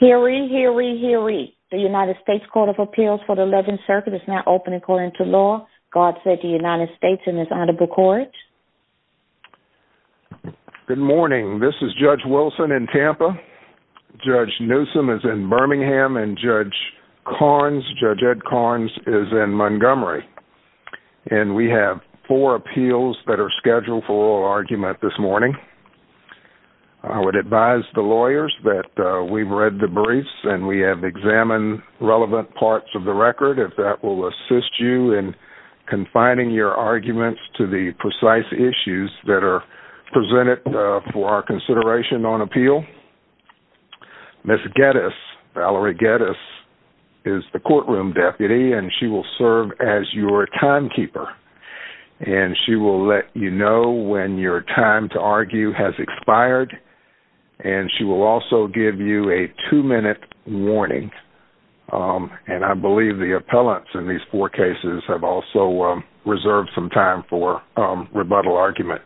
Hear ye, hear ye, hear ye. The United States Court of Appeals for the 11th Circuit is now open according to law. God save the United States and his Honorable Courage. Good morning. This is Judge Wilson in Tampa. Judge Newsom is in Birmingham and Judge Ed Karnes is in Montgomery. And we have four appeals that are scheduled for oral argument this morning. I would advise the lawyers that we've read the briefs and we have examined relevant parts of the record. If that will assist you in confining your arguments to the precise issues that are presented for our consideration on appeal. Ms. Geddes, Valerie Geddes, is the courtroom deputy and she will serve as your timekeeper. And she will let you know when your time to argue has expired. And she will also give you a two-minute warning. And I believe the appellants in these four cases have also reserved some time for rebuttal argument.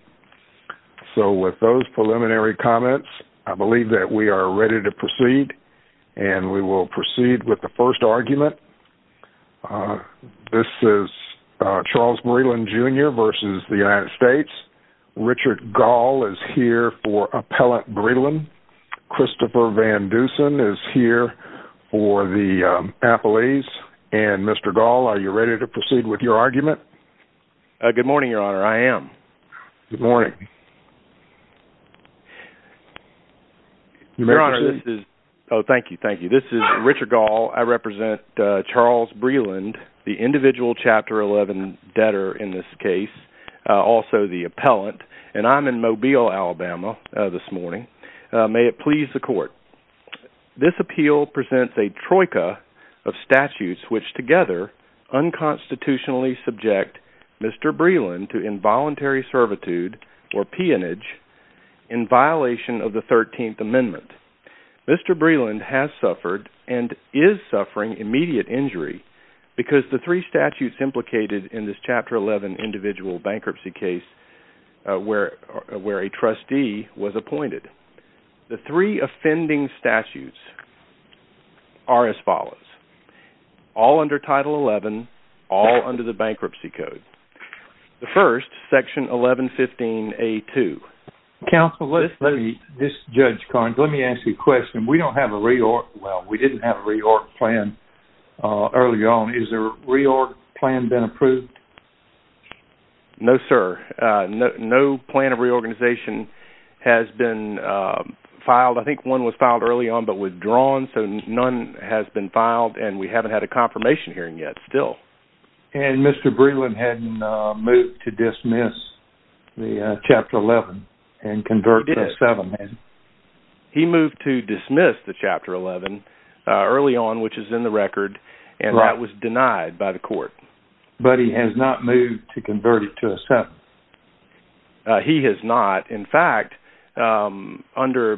So with those preliminary comments, I believe that we are ready to proceed. And we will proceed with the first argument. This is Charles Breland, Jr. v. The United States. Richard Gall is here for Appellant Breland. Christopher Van Dusen is here for the appellees. And Mr. Gall, are you ready to proceed with your argument? Good morning, Your Honor. I am. Good morning. Your Honor, this is Richard Gall. I represent Charles Breland, the individual Chapter 11 debtor in this case, also the appellant. And I'm in Mobile, Alabama this morning. May it please the court. This appeal presents a troika of statutes which together unconstitutionally subject Mr. Breland to involuntary servitude or peonage in violation of the 13th Amendment. Mr. Breland has suffered and is suffering immediate injury because the three statutes implicated in this Chapter 11 individual bankruptcy case where a trustee was appointed. The three offending statutes are as follows, all under Title 11, all under the Bankruptcy Code. The first, Section 1115A2. Counsel, this is Judge Carnes. Let me ask you a question. We don't have a re-org, well, we didn't have a re-org plan early on. Is a re-org plan been approved? No, sir. No plan of re-organization has been filed. I think one was filed early on but withdrawn, so none has been filed and we haven't had a confirmation hearing yet still. And Mr. Breland hadn't moved to dismiss the Chapter 11 and convert to a 7, had he? He moved to dismiss the Chapter 11 early on, which is in the record, and that was denied by the court. But he has not moved to convert it to a 7? He has not. In fact, under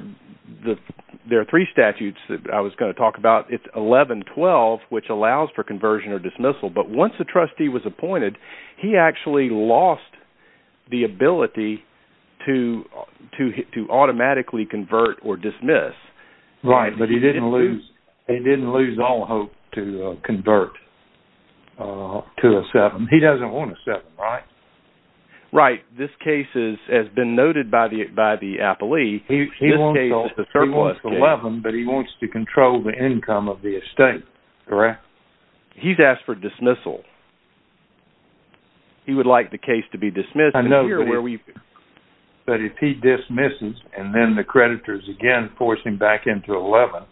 the three statutes I was going to talk about, it's 1112, which allows for conversion or dismissal. But once a trustee was appointed, he actually lost the ability to automatically convert or dismiss. Right, but he didn't lose all hope to convert to a 7. He doesn't want a 7, right? Right. This case has been noted by the appellee. He wants 11, but he wants to control the income of the estate, correct? He's asked for dismissal. He would like the case to be dismissed. But if he dismisses and then the creditors again force him back into 11,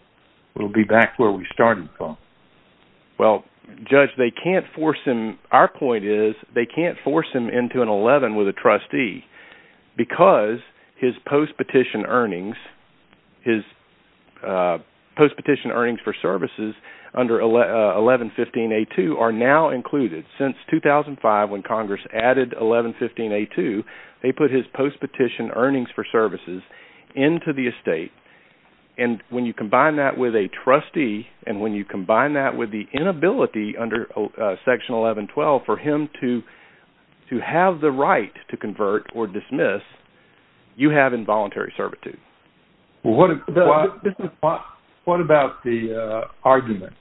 we'll be back where we started from. Well, Judge, our point is they can't force him into an 11 with a trustee because his post-petition earnings for services under 1115A2 are now included. Since 2005, when Congress added 1115A2, they put his post-petition earnings for services into the estate. And when you combine that with a trustee and when you combine that with the inability under Section 1112 for him to have the right to convert or dismiss, you have involuntary servitude. What about the argument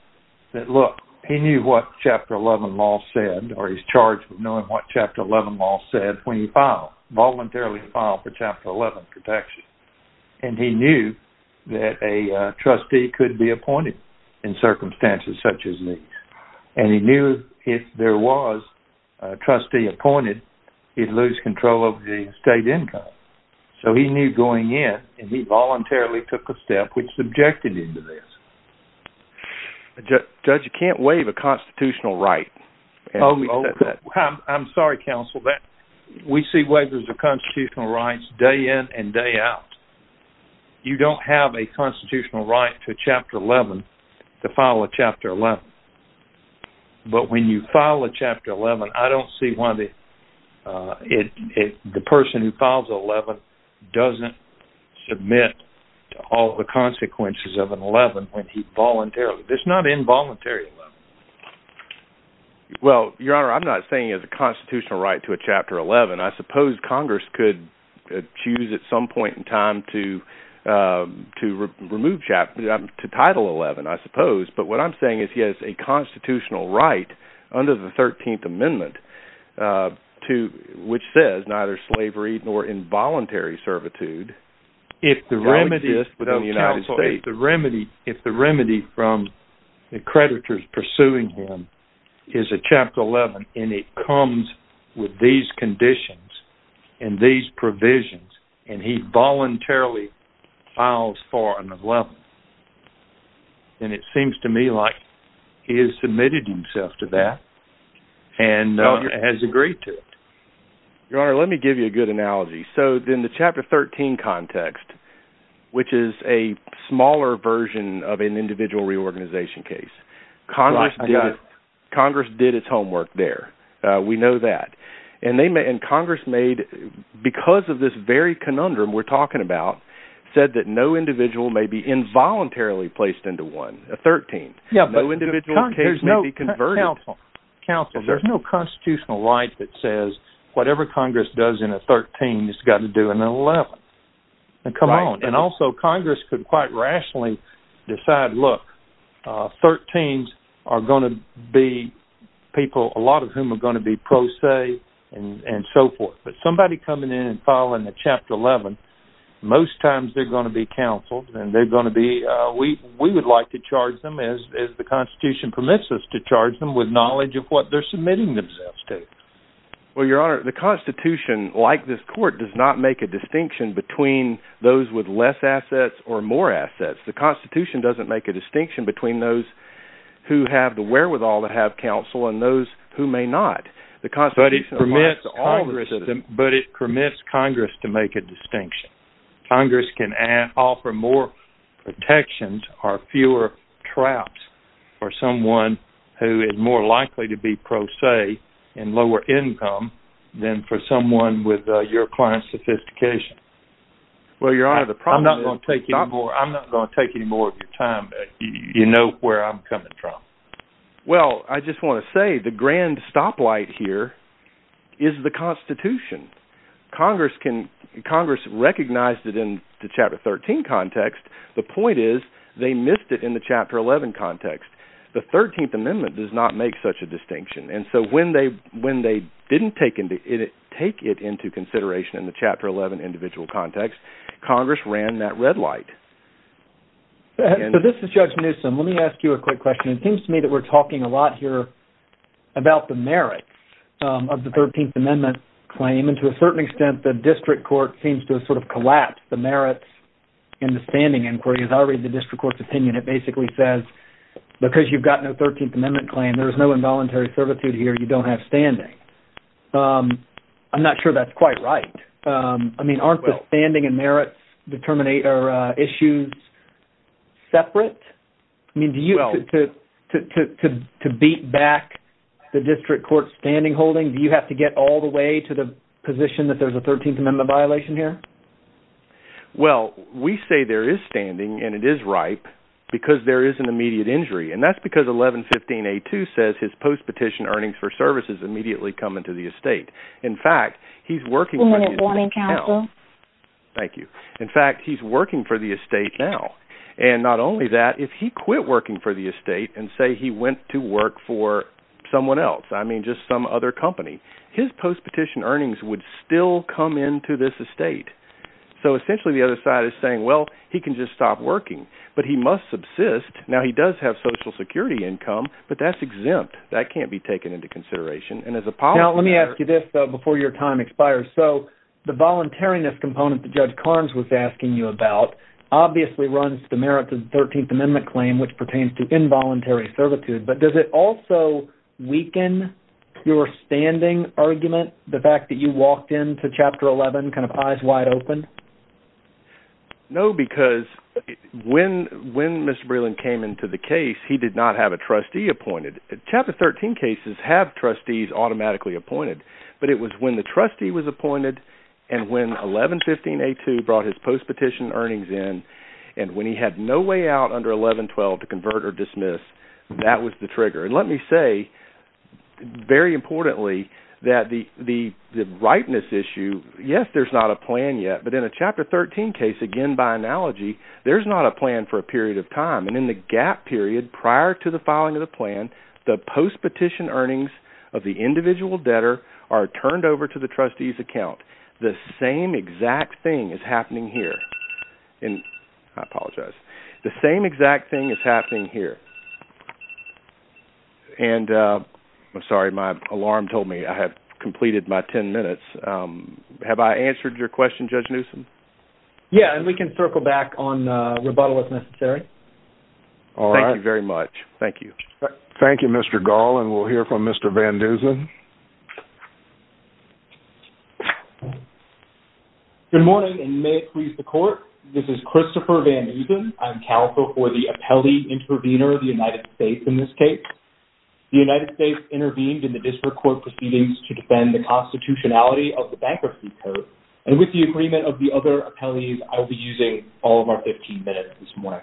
that, look, he knew what Chapter 11 law said or he's charged with knowing what Chapter 11 law said when he filed, voluntarily filed for Chapter 11 protection. And he knew that a trustee could be appointed in circumstances such as these. And he knew if there was a trustee appointed, he'd lose control of the state income. So he knew going in and he voluntarily took a step which subjected him to this. Judge, you can't waive a constitutional right. I'm sorry, Counsel. We see waivers of constitutional rights day in and day out. You don't have a constitutional right to Chapter 11 to file a Chapter 11. But when you file a Chapter 11, I don't see why the person who files 11 doesn't submit to all the consequences of an 11 when he voluntarily. It's not involuntary. Well, Your Honor, I'm not saying it's a constitutional right to a Chapter 11. I suppose Congress could choose at some point in time to title 11, I suppose. But what I'm saying is he has a constitutional right under the 13th Amendment which says neither slavery nor involuntary servitude exists within the United States. Counsel, if the remedy from the creditors pursuing him is a Chapter 11 and it comes with these conditions and these provisions and he voluntarily files for an 11, then it seems to me like he has submitted himself to that and has agreed to it. Your Honor, let me give you a good analogy. So in the Chapter 13 context, which is a smaller version of an individual reorganization case, Congress did its homework there. We know that. And Congress made, because of this very conundrum we're talking about, said that no individual may be involuntarily placed into one, a 13th. No individual case may be converted. Counsel, there's no constitutional right that says whatever Congress does in a 13th has got to do in an 11th. And also Congress could quite rationally decide, look, 13s are going to be people, a lot of whom are going to be pro se and so forth. But somebody coming in and filing a Chapter 11, most times they're going to be counseled and they're going to be, we would like to charge them as the Constitution permits us to charge them with knowledge of what they're submitting themselves to. Well, Your Honor, the Constitution, like this Court, does not make a distinction between those with less assets or more assets. The Constitution doesn't make a distinction between those who have the wherewithal to have counsel and those who may not. But it permits Congress to make a distinction. Congress can offer more protections or fewer traps for someone who is more likely to be pro se and lower income than for someone with your client's sophistication. I'm not going to take any more of your time. You know where I'm coming from. Well, I just want to say the grand stoplight here is the Constitution. Congress recognized it in the Chapter 13 context. The point is they missed it in the Chapter 11 context. The 13th Amendment does not make such a distinction. And so when they didn't take it into consideration in the Chapter 11 individual context, Congress ran that red light. So this is Judge Newsom. Let me ask you a quick question. It seems to me that we're talking a lot here about the merits of the 13th Amendment claim. And to a certain extent, the district court seems to have sort of collapsed the merits in the standing inquiry. As I read the district court's opinion, it basically says because you've got no 13th Amendment claim, there is no involuntary servitude here. You don't have standing. I'm not sure that's quite right. Aren't the standing and merits issues separate? I mean, to beat back the district court's standing holding, do you have to get all the way to the position that there's a 13th Amendment violation here? Well, we say there is standing, and it is ripe, because there is an immediate injury. And that's because 1115A2 says his post-petition earnings for services immediately come into the estate. In fact, he's working for the estate now. Thank you. In fact, he's working for the estate now. And not only that, if he quit working for the estate and say he went to work for someone else, I mean just some other company, his post-petition earnings would still come into this estate. So essentially, the other side is saying, well, he can just stop working, but he must subsist. Now, he does have Social Security income, but that's exempt. That can't be taken into consideration. Now, let me ask you this before your time expires. So the voluntariness component that Judge Carnes was asking you about obviously runs the merits of the 13th Amendment claim, which pertains to involuntary servitude. But does it also weaken your standing argument, the fact that you walked into Chapter 11 kind of eyes wide open? No, because when Mr. Breland came into the case, he did not have a trustee appointed. Chapter 13 cases have trustees automatically appointed. But it was when the trustee was appointed and when 1115A2 brought his post-petition earnings in and when he had no way out under 1112 to convert or dismiss, that was the trigger. And let me say, very importantly, that the rightness issue, yes, there's not a plan yet. But in a Chapter 13 case, again by analogy, there's not a plan for a period of time. And in the gap period prior to the filing of the plan, the post-petition earnings of the individual debtor are turned over to the trustee's account. The same exact thing is happening here. And I apologize. The same exact thing is happening here. And I'm sorry, my alarm told me I had completed my ten minutes. Have I answered your question, Judge Newsom? Yeah, and we can circle back on rebuttal if necessary. All right. Thank you very much. Thank you. Thank you, Mr. Gall, and we'll hear from Mr. Van Dusen. Good morning, and may it please the Court, this is Christopher Van Dusen. I'm counsel for the appellee intervener of the United States in this case. The United States intervened in the district court proceedings to defend the constitutionality of the bankruptcy code. And with the agreement of the other appellees, I will be using all of our 15 minutes this morning.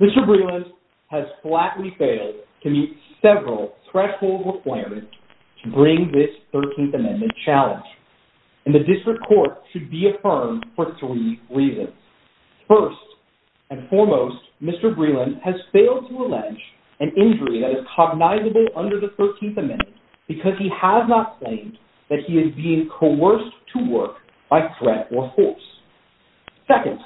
Mr. Breland has flatly failed to meet several thresholds required to bring this 13th Amendment challenge. And the district court should be affirmed for three reasons. First and foremost, Mr. Breland has failed to allege an injury that is cognizable under the 13th Amendment because he has not claimed that he is being coerced to work by threat or force. Second,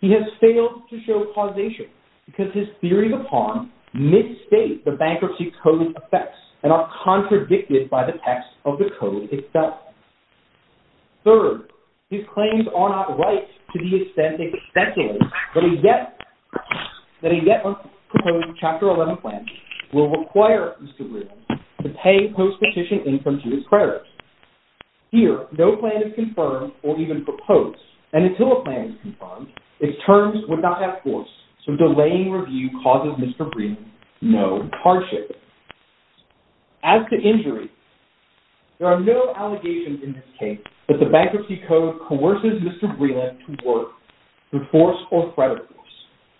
he has failed to show causation because his theories of harm misstate the bankruptcy code effects and are contradicted by the text of the code itself. Third, his claims are not right to the extent they speculate that a yet-proposed Chapter 11 plan will require Mr. Breland to pay post-petition income to his creditors. Here, no plan is confirmed or even proposed, and until a plan is confirmed, its terms would not have force, so delaying review causes Mr. Breland no hardship. As to injury, there are no allegations in this case that the bankruptcy code coerces Mr. Breland to work through force or threat of force.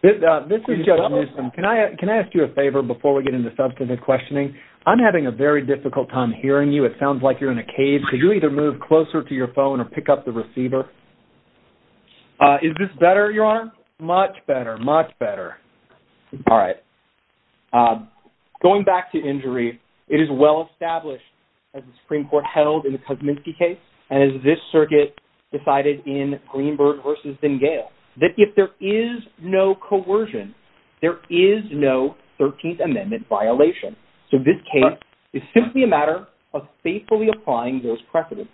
This is Judge Newsom. Can I ask you a favor before we get into substantive questioning? I'm having a very difficult time hearing you. It sounds like you're in a cage. Could you either move closer to your phone or pick up the receiver? Is this better, Your Honor? Much better. Much better. All right. Going back to injury, it is well-established, as the Supreme Court held in the Kuzminsky case and as this circuit decided in Greenberg v. Dengale, that if there is no coercion, there is no 13th Amendment violation. So this case is simply a matter of faithfully applying those precedents.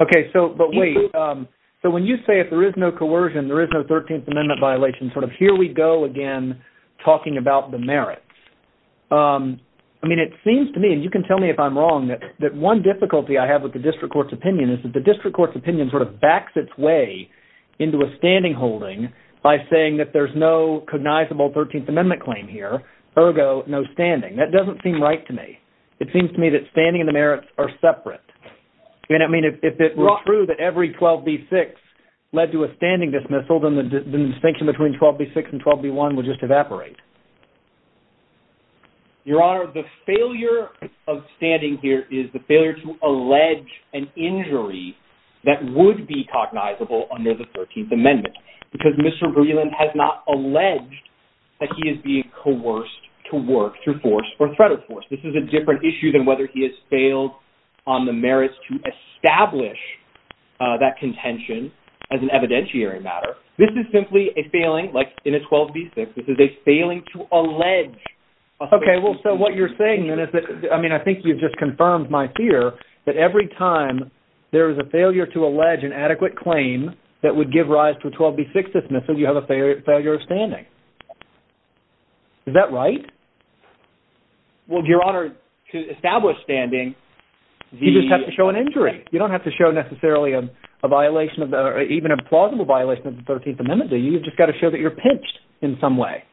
Okay, but wait. So when you say if there is no coercion, there is no 13th Amendment violation, sort of here we go again talking about the merits, I mean, it seems to me, and you can tell me if I'm wrong, that one difficulty I have with the district court's opinion is that the district court's opinion sort of backs its way into a standing holding by saying that there's no cognizable 13th Amendment claim here, ergo no standing. That doesn't seem right to me. It seems to me that standing and the merits are separate. I mean, if it were true that every 12b-6 led to a standing dismissal, then the distinction between 12b-6 and 12b-1 would just evaporate. Your Honor, the failure of standing here is the failure to allege an injury that would be cognizable under the 13th Amendment because Mr. Greeland has not alleged that he is being coerced to work through force or threat of force. This is a different issue than whether he has failed on the merits to establish that contention as an evidentiary matter. This is simply a failing, like in a 12b-6, this is a failing to allege. Okay, well, so what you're saying then is that, I mean, I think you've just confirmed my fear that every time there is a failure to allege an adequate claim that would give rise to a 12b-6 dismissal, you have a failure of standing. Is that right? Well, Your Honor, to establish standing, the... You just have to show an injury. You don't have to show necessarily a violation or even a plausible violation of the 13th Amendment. You've just got to show that you're pinched in some way.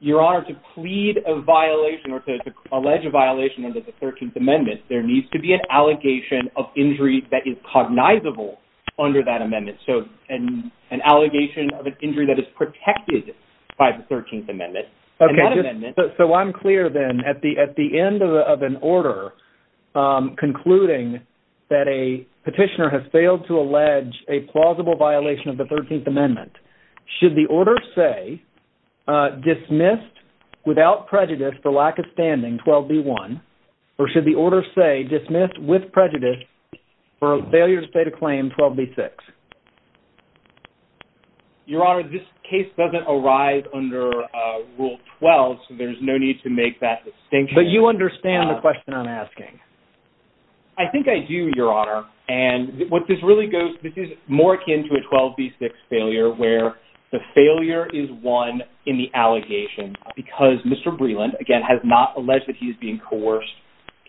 Your Honor, to plead a violation or to allege a violation under the 13th Amendment, there needs to be an allegation of injury that is cognizable under that amendment, so an allegation of an injury that is protected by the 13th Amendment. Okay, so I'm clear then. At the end of an order concluding that a petitioner has failed to allege a plausible violation of the 13th Amendment, should the order say dismissed without prejudice for lack of standing, 12b-1, or should the order say dismissed with prejudice for a failure to state a claim, 12b-6? Your Honor, this case doesn't arise under Rule 12, so there's no need to make that distinction. But you understand the question I'm asking? I think I do, Your Honor, and what this really goes... This is more akin to a 12b-6 failure where the failure is one in the allegation because Mr. Breland, again, has not alleged that he is being coerced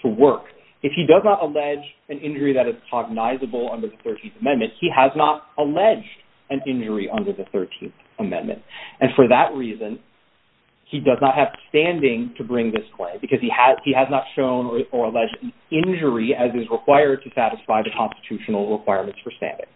to work. If he does not allege an injury that is cognizable under the 13th Amendment, he has not alleged an injury under the 13th Amendment. And for that reason, he does not have standing to bring this claim because he has not shown or alleged an injury as is required to satisfy the constitutional requirements for standing.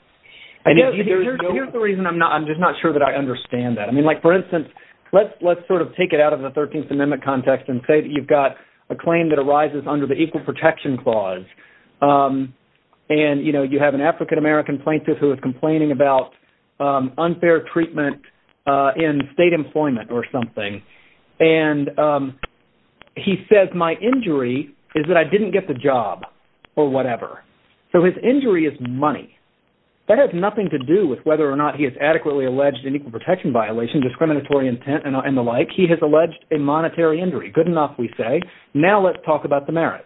Here's the reason I'm just not sure that I understand that. For instance, let's sort of take it out of the 13th Amendment context and say that you've got a claim that arises under the Equal Protection Clause, and you have an African-American plaintiff who is complaining about unfair treatment in state employment or something, and he says, my injury is that I didn't get the job or whatever. So his injury is money. That has nothing to do with whether or not he has adequately alleged an equal protection violation, discriminatory intent, and the like. He has alleged a monetary injury. Good enough, we say. Now let's talk about the merits.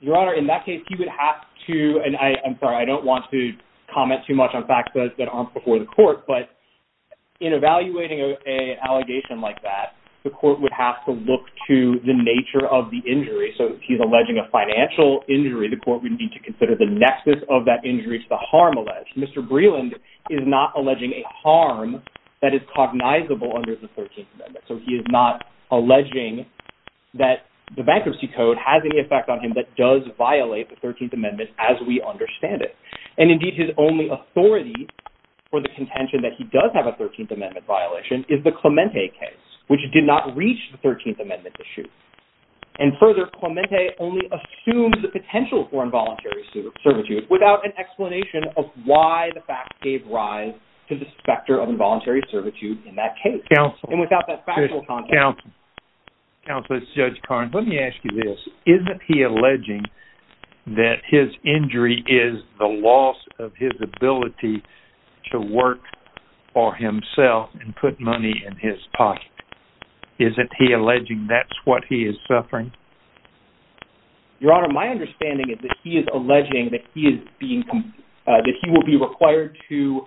Your Honor, in that case, he would have to, and I'm sorry, I don't want to comment too much on facts that aren't before the court, but in evaluating an allegation like that, the court would have to look to the nature of the injury. So if he's alleging a financial injury, the court would need to consider the nexus of that injury to the harm alleged. Mr. Breland is not alleging a harm that is cognizable under the 13th Amendment. So he is not alleging that the bankruptcy code has any effect on him that does violate the 13th Amendment as we understand it. And indeed, his only authority for the contention that he does have a 13th Amendment violation is the Clemente case, which did not reach the 13th Amendment issue. And further, Clemente only assumes the potential for involuntary servitude without an explanation of why the facts gave rise to the specter of involuntary servitude in that case. Counsel. And without that factual context. Counsel. Counsel, this is Judge Carnes. Let me ask you this. Isn't he alleging that his injury is the loss of his ability to work for himself and put money in his pocket? Isn't he alleging that's what he is suffering? Your Honor, my understanding is that he is alleging that he will be required to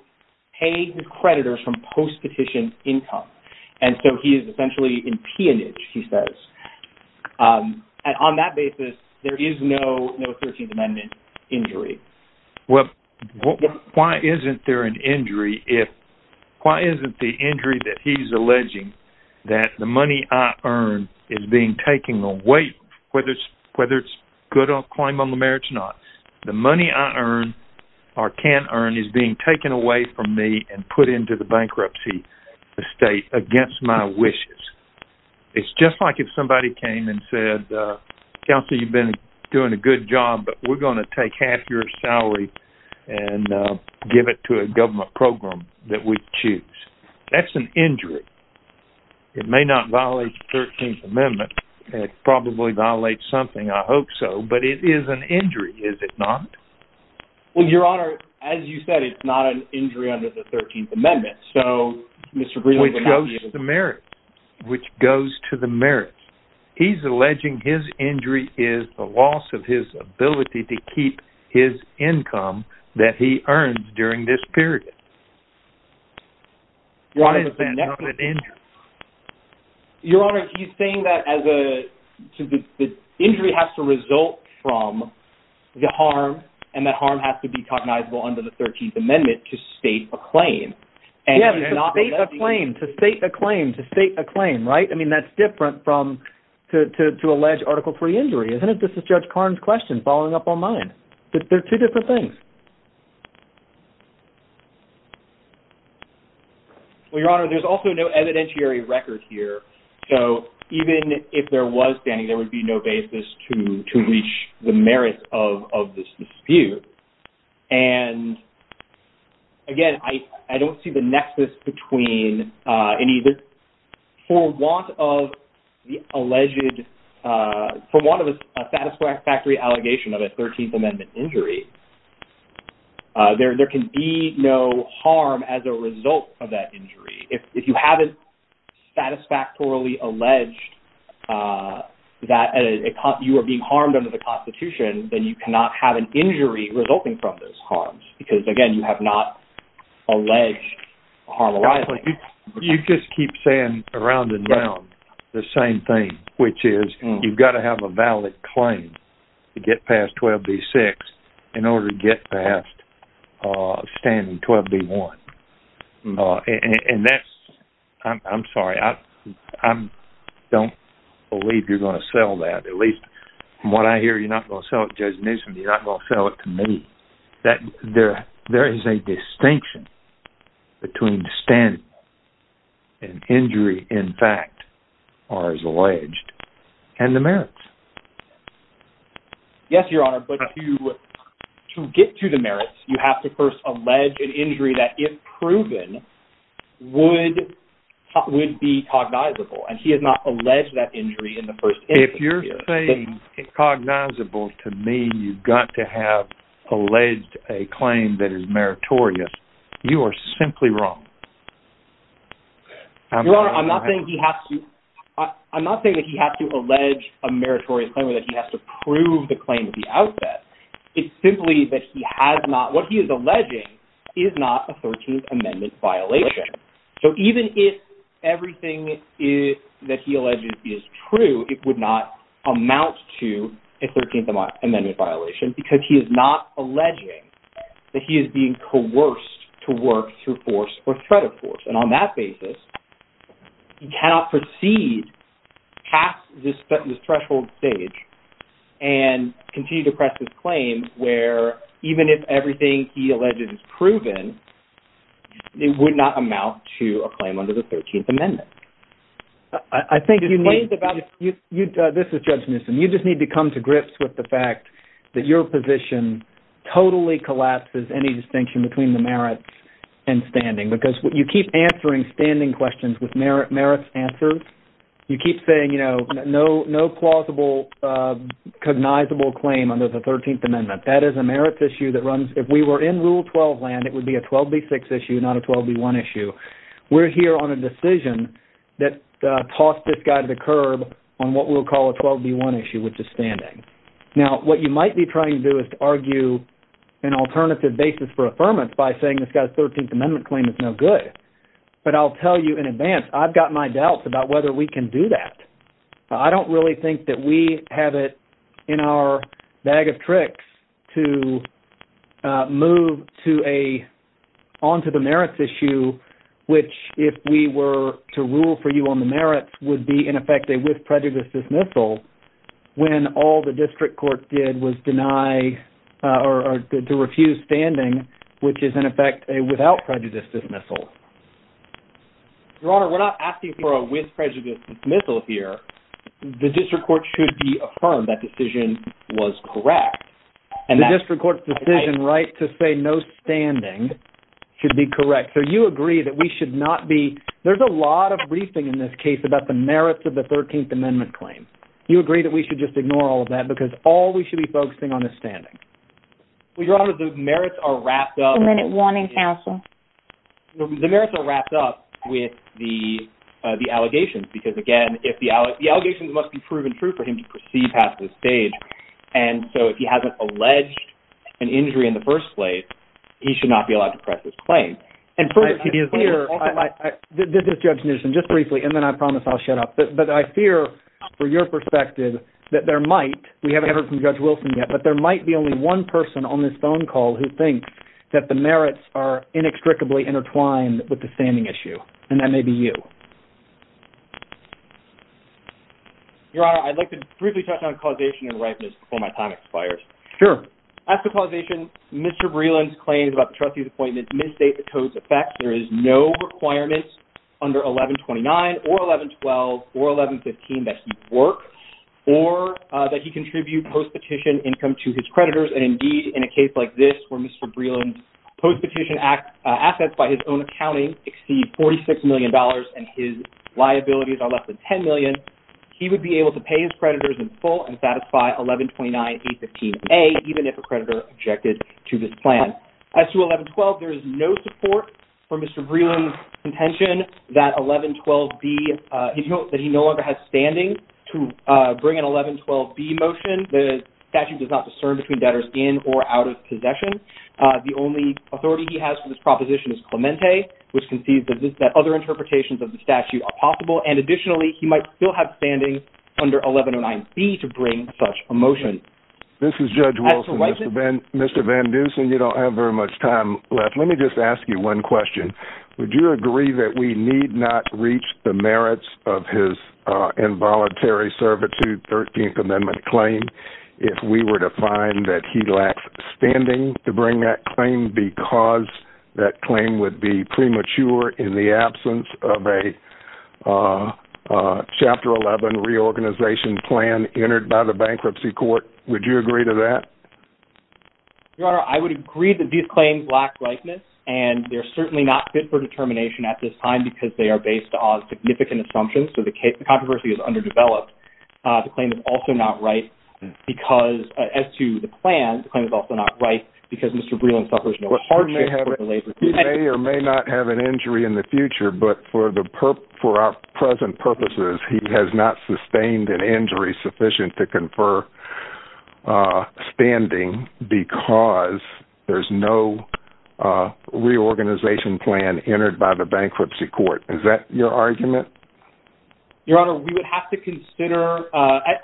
pay his creditors from post-petition income. And so he is essentially in peonage, he says. And on that basis, there is no 13th Amendment injury. Well, why isn't there an injury if why isn't the injury that he's alleging that the money I earn is being taken away, whether it's good or a claim on the merits or not. The money I earn or can earn is being taken away from me and put into the bankruptcy estate against my wishes. It's just like if somebody came and said, Counsel, you've been doing a good job, but we're going to take half your salary and give it to a government program that we choose. That's an injury. It may not violate the 13th Amendment. It probably violates something. I hope so. But it is an injury, is it not? Well, Your Honor, as you said, it's not an injury under the 13th Amendment. Which goes to the merits. He's alleging his injury is the loss of his ability to keep his income that he earns during this period. Why is that not an injury? Your Honor, he's saying that the injury has to result from the harm and that harm has to be cognizable under the 13th Amendment to state a claim. Yeah, to state a claim. To state a claim. To state a claim, right? I mean, that's different from to allege Article III injury, isn't it? This is Judge Karn's question following up on mine. They're two different things. Well, Your Honor, there's also no evidentiary record here. So even if there was standing, there would be no basis to reach the merits of this dispute. And, again, I don't see the nexus between any of this. For want of the alleged – for want of a satisfactory allegation of a 13th Amendment injury, there can be no harm as a result of that injury. If you haven't satisfactorily alleged that you are being harmed under the Constitution, then you cannot have an injury resulting from those harms. Because, again, you have not alleged a harm arising. You just keep saying around and around the same thing, which is you've got to have a valid claim to get past 12B6. In order to get past standing 12B1. And that's – I'm sorry. I don't believe you're going to sell that. At least from what I hear, you're not going to sell it to Judge Newsom. You're not going to sell it to me. There is a distinction between standing and injury, in fact, as alleged, and the merits. Yes, Your Honor. But to get to the merits, you have to first allege an injury that, if proven, would be cognizable. And he has not alleged that injury in the first instance here. If you're saying cognizable to me, you've got to have alleged a claim that is meritorious, you are simply wrong. Your Honor, I'm not saying he has to – I'm not saying that he has to allege a meritorious claim or that he has to prove the claim at the outset. It's simply that he has not – what he is alleging is not a 13th Amendment violation. So even if everything that he alleges is true, it would not amount to a 13th Amendment violation because he is not alleging that he is being coerced to work through force or threat of force. And on that basis, he cannot proceed past this threshold stage and continue to press his claim where, even if everything he alleged is proven, it would not amount to a claim under the 13th Amendment. I think you need – this is Judge Newsom. You just need to come to grips with the fact that your position totally collapses any distinction between the merits and standing because you keep answering standing questions with merits answered. You keep saying, you know, no plausible cognizable claim under the 13th Amendment. That is a merits issue that runs – if we were in Rule 12 land, it would be a 12b6 issue, not a 12b1 issue. We are here on a decision that tossed this guy to the curb on what we will call a 12b1 issue, which is standing. Now, what you might be trying to do is to argue an alternative basis for affirmance by saying this guy's 13th Amendment claim is no good. But I will tell you in advance, I have got my doubts about whether we can do that. I do not really think that we have it in our bag of tricks to move onto the merits issue, which if we were to rule for you on the merits, would be in effect a with prejudice dismissal when all the district court did was deny or to refuse standing, which is in effect a without prejudice dismissal. Your Honor, we are not asking for a with prejudice dismissal here. The district court should be affirmed that decision was correct. The district court's decision right to say no standing should be correct. So you agree that we should not be – there is a lot of briefing in this case about the merits of the 13th Amendment claim. You agree that we should just ignore all of that because all we should be focusing on is standing. Your Honor, the merits are wrapped up – One minute warning, counsel. The merits are wrapped up with the allegations because, again, the allegations must be proven true for him to proceed past this stage. And so if he has not alleged an injury in the first place, he should not be allowed to press his claim. This is Judge Newsom, just briefly, and then I promise I will shut up. But I fear, from your perspective, that there might – we have not heard from Judge Wilson yet – but there might be only one person on this phone call who thinks that the merits are inextricably intertwined with the standing issue, and that may be you. Your Honor, I'd like to briefly touch on causation and ripeness before my time expires. Sure. After causation, Mr. Breland's claims about the trustee's appointment misstate the code's effects. There is no requirement under 1129 or 1112 or 1115 that he work or that he contribute post-petition income to his creditors. And, indeed, in a case like this where Mr. Breland's post-petition assets by his own accounting exceed $46 million, and his liabilities are less than $10 million, he would be able to pay his creditors in full and satisfy 1129A15A, even if a creditor objected to this plan. As to 1112, there is no support for Mr. Breland's contention that 1112B – that he no longer has standing to bring an 1112B motion. The statute does not discern between debtors in or out of possession. The only authority he has for this proposition is Clemente, which concedes that other interpretations of the statute are possible, and, additionally, he might still have standing under 1109B to bring such a motion. This is Judge Wilson. Mr. Van Dusen, you don't have very much time left. Let me just ask you one question. Would you agree that we need not reach the merits of his involuntary servitude 13th Amendment claim if we were to find that he lacks standing to bring that claim because that claim would be premature in the absence of a Chapter 11 reorganization plan entered by the bankruptcy court? Would you agree to that? Your Honor, I would agree that these claims lack likeness, and they're certainly not fit for determination at this time because they are based on significant assumptions, so the controversy is underdeveloped. The claim is also not right because, as to the plan, the claim is also not right because Mr. Breland suffers no hardship for his labor. He may or may not have an injury in the future, but for our present purposes he has not sustained an injury sufficient to confer standing because there's no reorganization plan entered by the bankruptcy court. Is that your argument? Your Honor, we would have to consider,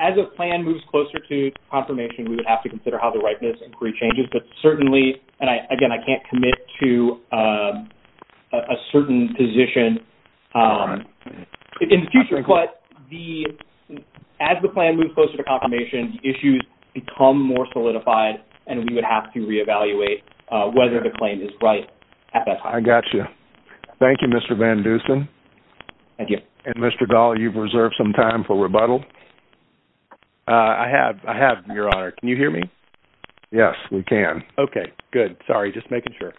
as a plan moves closer to confirmation, we would have to consider how the likeness inquiry changes, but certainly, and, again, I can't commit to a certain position in the future, but as the plan moves closer to confirmation, issues become more solidified, and we would have to reevaluate whether the claim is right at that time. I got you. Thank you, Mr. Van Dusen. Thank you. And, Mr. Dahl, you've reserved some time for rebuttal. I have, Your Honor. Can you hear me? Yes, we can. Okay, good. Sorry, just making sure.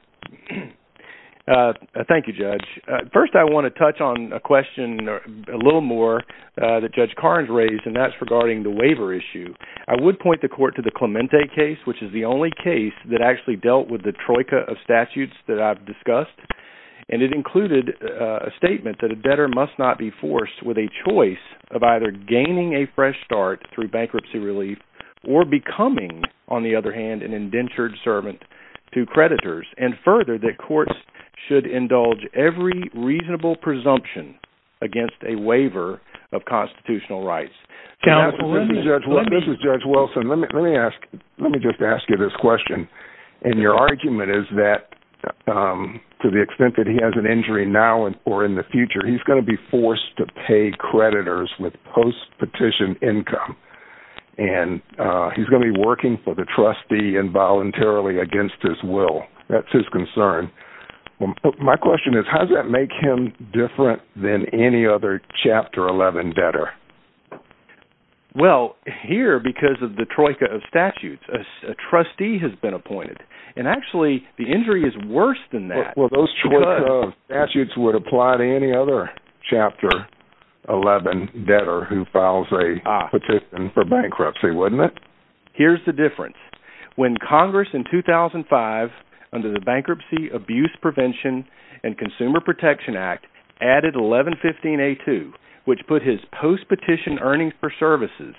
Thank you, Judge. First, I want to touch on a question a little more that Judge Carnes raised, and that's regarding the waiver issue. I would point the court to the Clemente case, which is the only case that actually dealt with the troika of statutes that I've discussed, and it included a statement that a debtor must not be forced with a choice of either gaining a fresh start through bankruptcy relief or becoming, on the other hand, an indentured servant to creditors, and further, that courts should indulge every reasonable presumption against a waiver of constitutional rights. This is Judge Wilson. Let me just ask you this question, and your argument is that to the extent that he has an injury now or in the future, he's going to be forced to pay creditors with post-petition income, and he's going to be working for the trustee involuntarily against his will. That's his concern. My question is, how does that make him different than any other Chapter 11 debtor? Well, here, because of the troika of statutes, a trustee has been appointed, and actually, the injury is worse than that. Well, those troika of statutes would apply to any other Chapter 11 debtor who files a petition for bankruptcy, wouldn't it? Here's the difference. When Congress in 2005, under the Bankruptcy, Abuse Prevention, and Consumer Protection Act, added 1115A2, which put his post-petition earnings for services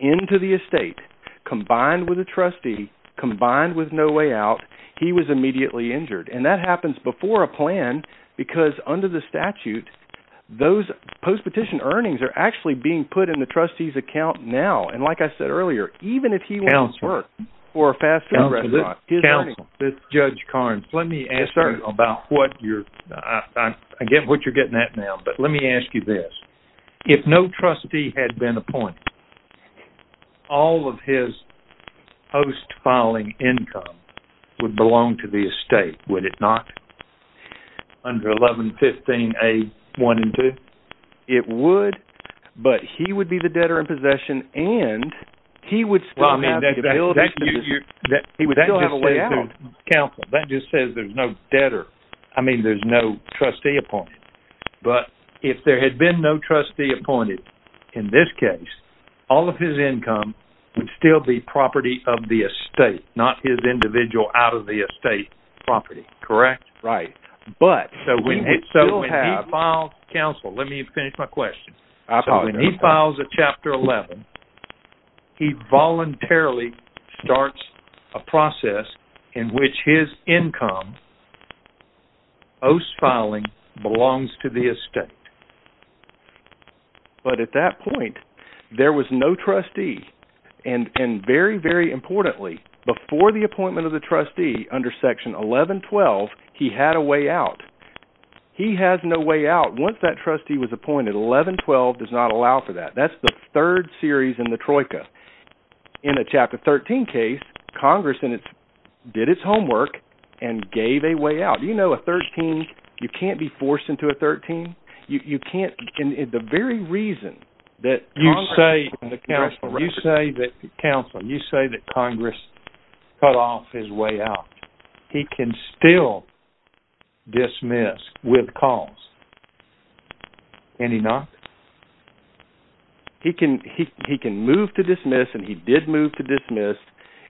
into the estate, combined with a trustee, combined with no way out, he was immediately injured, and that happens before a plan, because under the statute, those post-petition earnings are actually being put in the trustee's account now, and like I said earlier, even if he wants to work for a fast food restaurant, let me ask you about what you're getting at now, but let me ask you this. If no trustee had been appointed, all of his post-filing income would belong to the estate, would it not? Under 1115A1 and 2? It would, but he would be the debtor in possession, and he would still have the ability to do business. He would still have a way out. That just says there's no trustee appointed. But if there had been no trustee appointed in this case, all of his income would still be property of the estate, not his individual out-of-the-estate property, correct? Right. When he files a chapter 11, he voluntarily starts a process in which his income, post-filing, belongs to the estate. But at that point, there was no trustee, and very, very importantly, before the appointment of the trustee under section 1112, he had a way out. He has no way out. Once that trustee was appointed, 1112 does not allow for that. That's the third series in the troika. In a chapter 13 case, Congress did its homework and gave a way out. Do you know a 13, you can't be forced into a 13? The very reason that you say that Congress cut off his way out, he can still dismiss with cause. And he not? He can move to dismiss, and he did move to dismiss,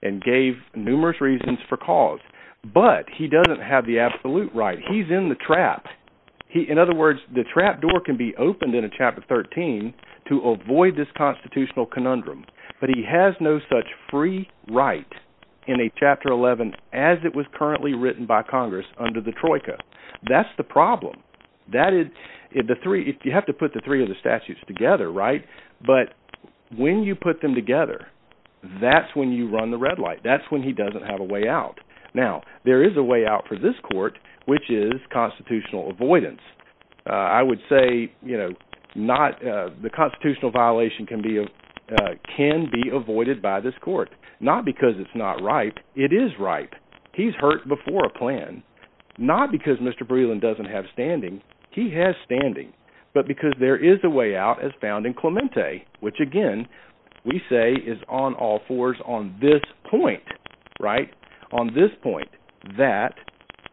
and gave numerous reasons for cause. But he doesn't have the absolute right. He's in the trap. In other words, the trap door can be opened in a chapter 13 to avoid this constitutional conundrum. But he has no such free right in a chapter 11 as it was currently written by Congress under the troika. That's the problem. You have to put the three of the statutes together, right? But when you put them together, that's when you run the red light. That's when he doesn't have a way out. Now, there is a way out for this court, which is constitutional avoidance. I would say, you know, the constitutional violation can be avoided by this court. Not because it's not right. It is right. He's hurt before a plan. Not because Mr. Breland doesn't have standing. He has standing. But because there is a way out as found in Clemente, which, again, we say is on all fours on this point, right? On this point, that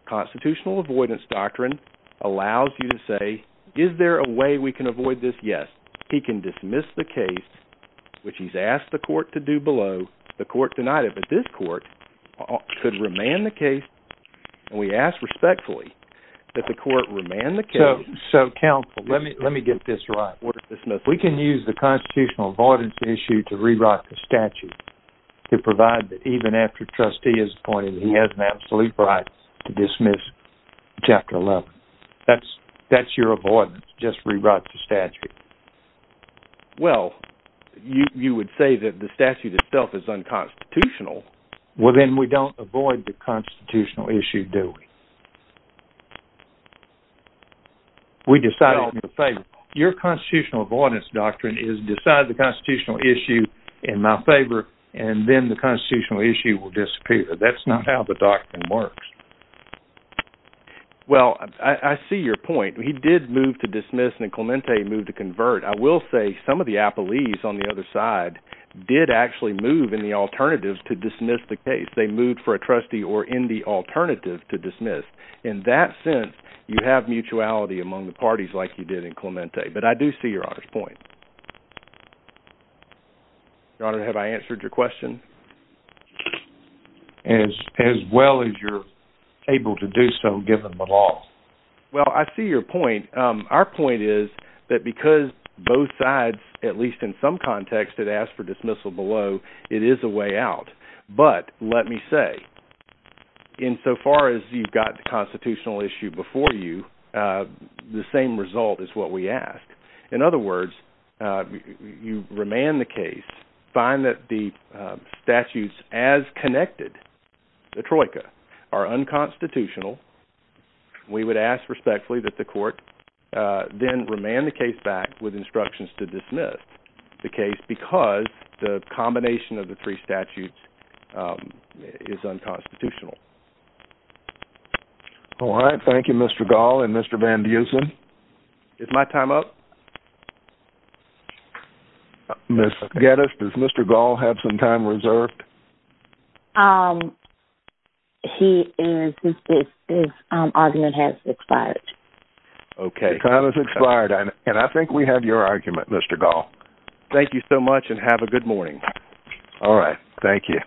constitutional avoidance doctrine allows you to say, is there a way we can avoid this? Yes. He can dismiss the case, which he's asked the court to do below. The court denied it. But this court could remand the case. And we ask respectfully that the court remand the case. So, counsel, let me get this right. We can use the constitutional avoidance issue to rewrite the statute to provide that even after the trustee is appointed, he has an absolute right to dismiss Chapter 11. That's your avoidance, just rewrite the statute. Well, you would say that the statute itself is unconstitutional. Well, then we don't avoid the constitutional issue, do we? We decide it in my favor. Your constitutional avoidance doctrine is decide the constitutional issue in my favor, and then the constitutional issue will disappear. That's not how the doctrine works. Well, I see your point. He did move to dismiss, and then Clemente moved to convert. I will say some of the appellees on the other side did actually move in the alternative to dismiss the case. They moved for a trustee or in the alternative to dismiss. In that sense, you have mutuality among the parties like you did in Clemente. But I do see Your Honor's point. Your Honor, have I answered your question? As well as you're able to do so given the law. Well, I see your point. Our point is that because both sides, at least in some context, had asked for dismissal below, it is a way out. But let me say, insofar as you've got the constitutional issue before you, the same result is what we ask. In other words, you remand the case, find that the statutes as connected, the troika, are unconstitutional. We would ask respectfully that the court then remand the case back with instructions to dismiss the case because the combination of the three statutes is unconstitutional. All right. Thank you, Mr. Gall and Mr. Van Duzen. Is my time up? Ms. Geddes, does Mr. Gall have some time reserved? His argument has expired. Okay. And I think we have your argument, Mr. Gall. Thank you so much and have a good morning. All right. Thank you.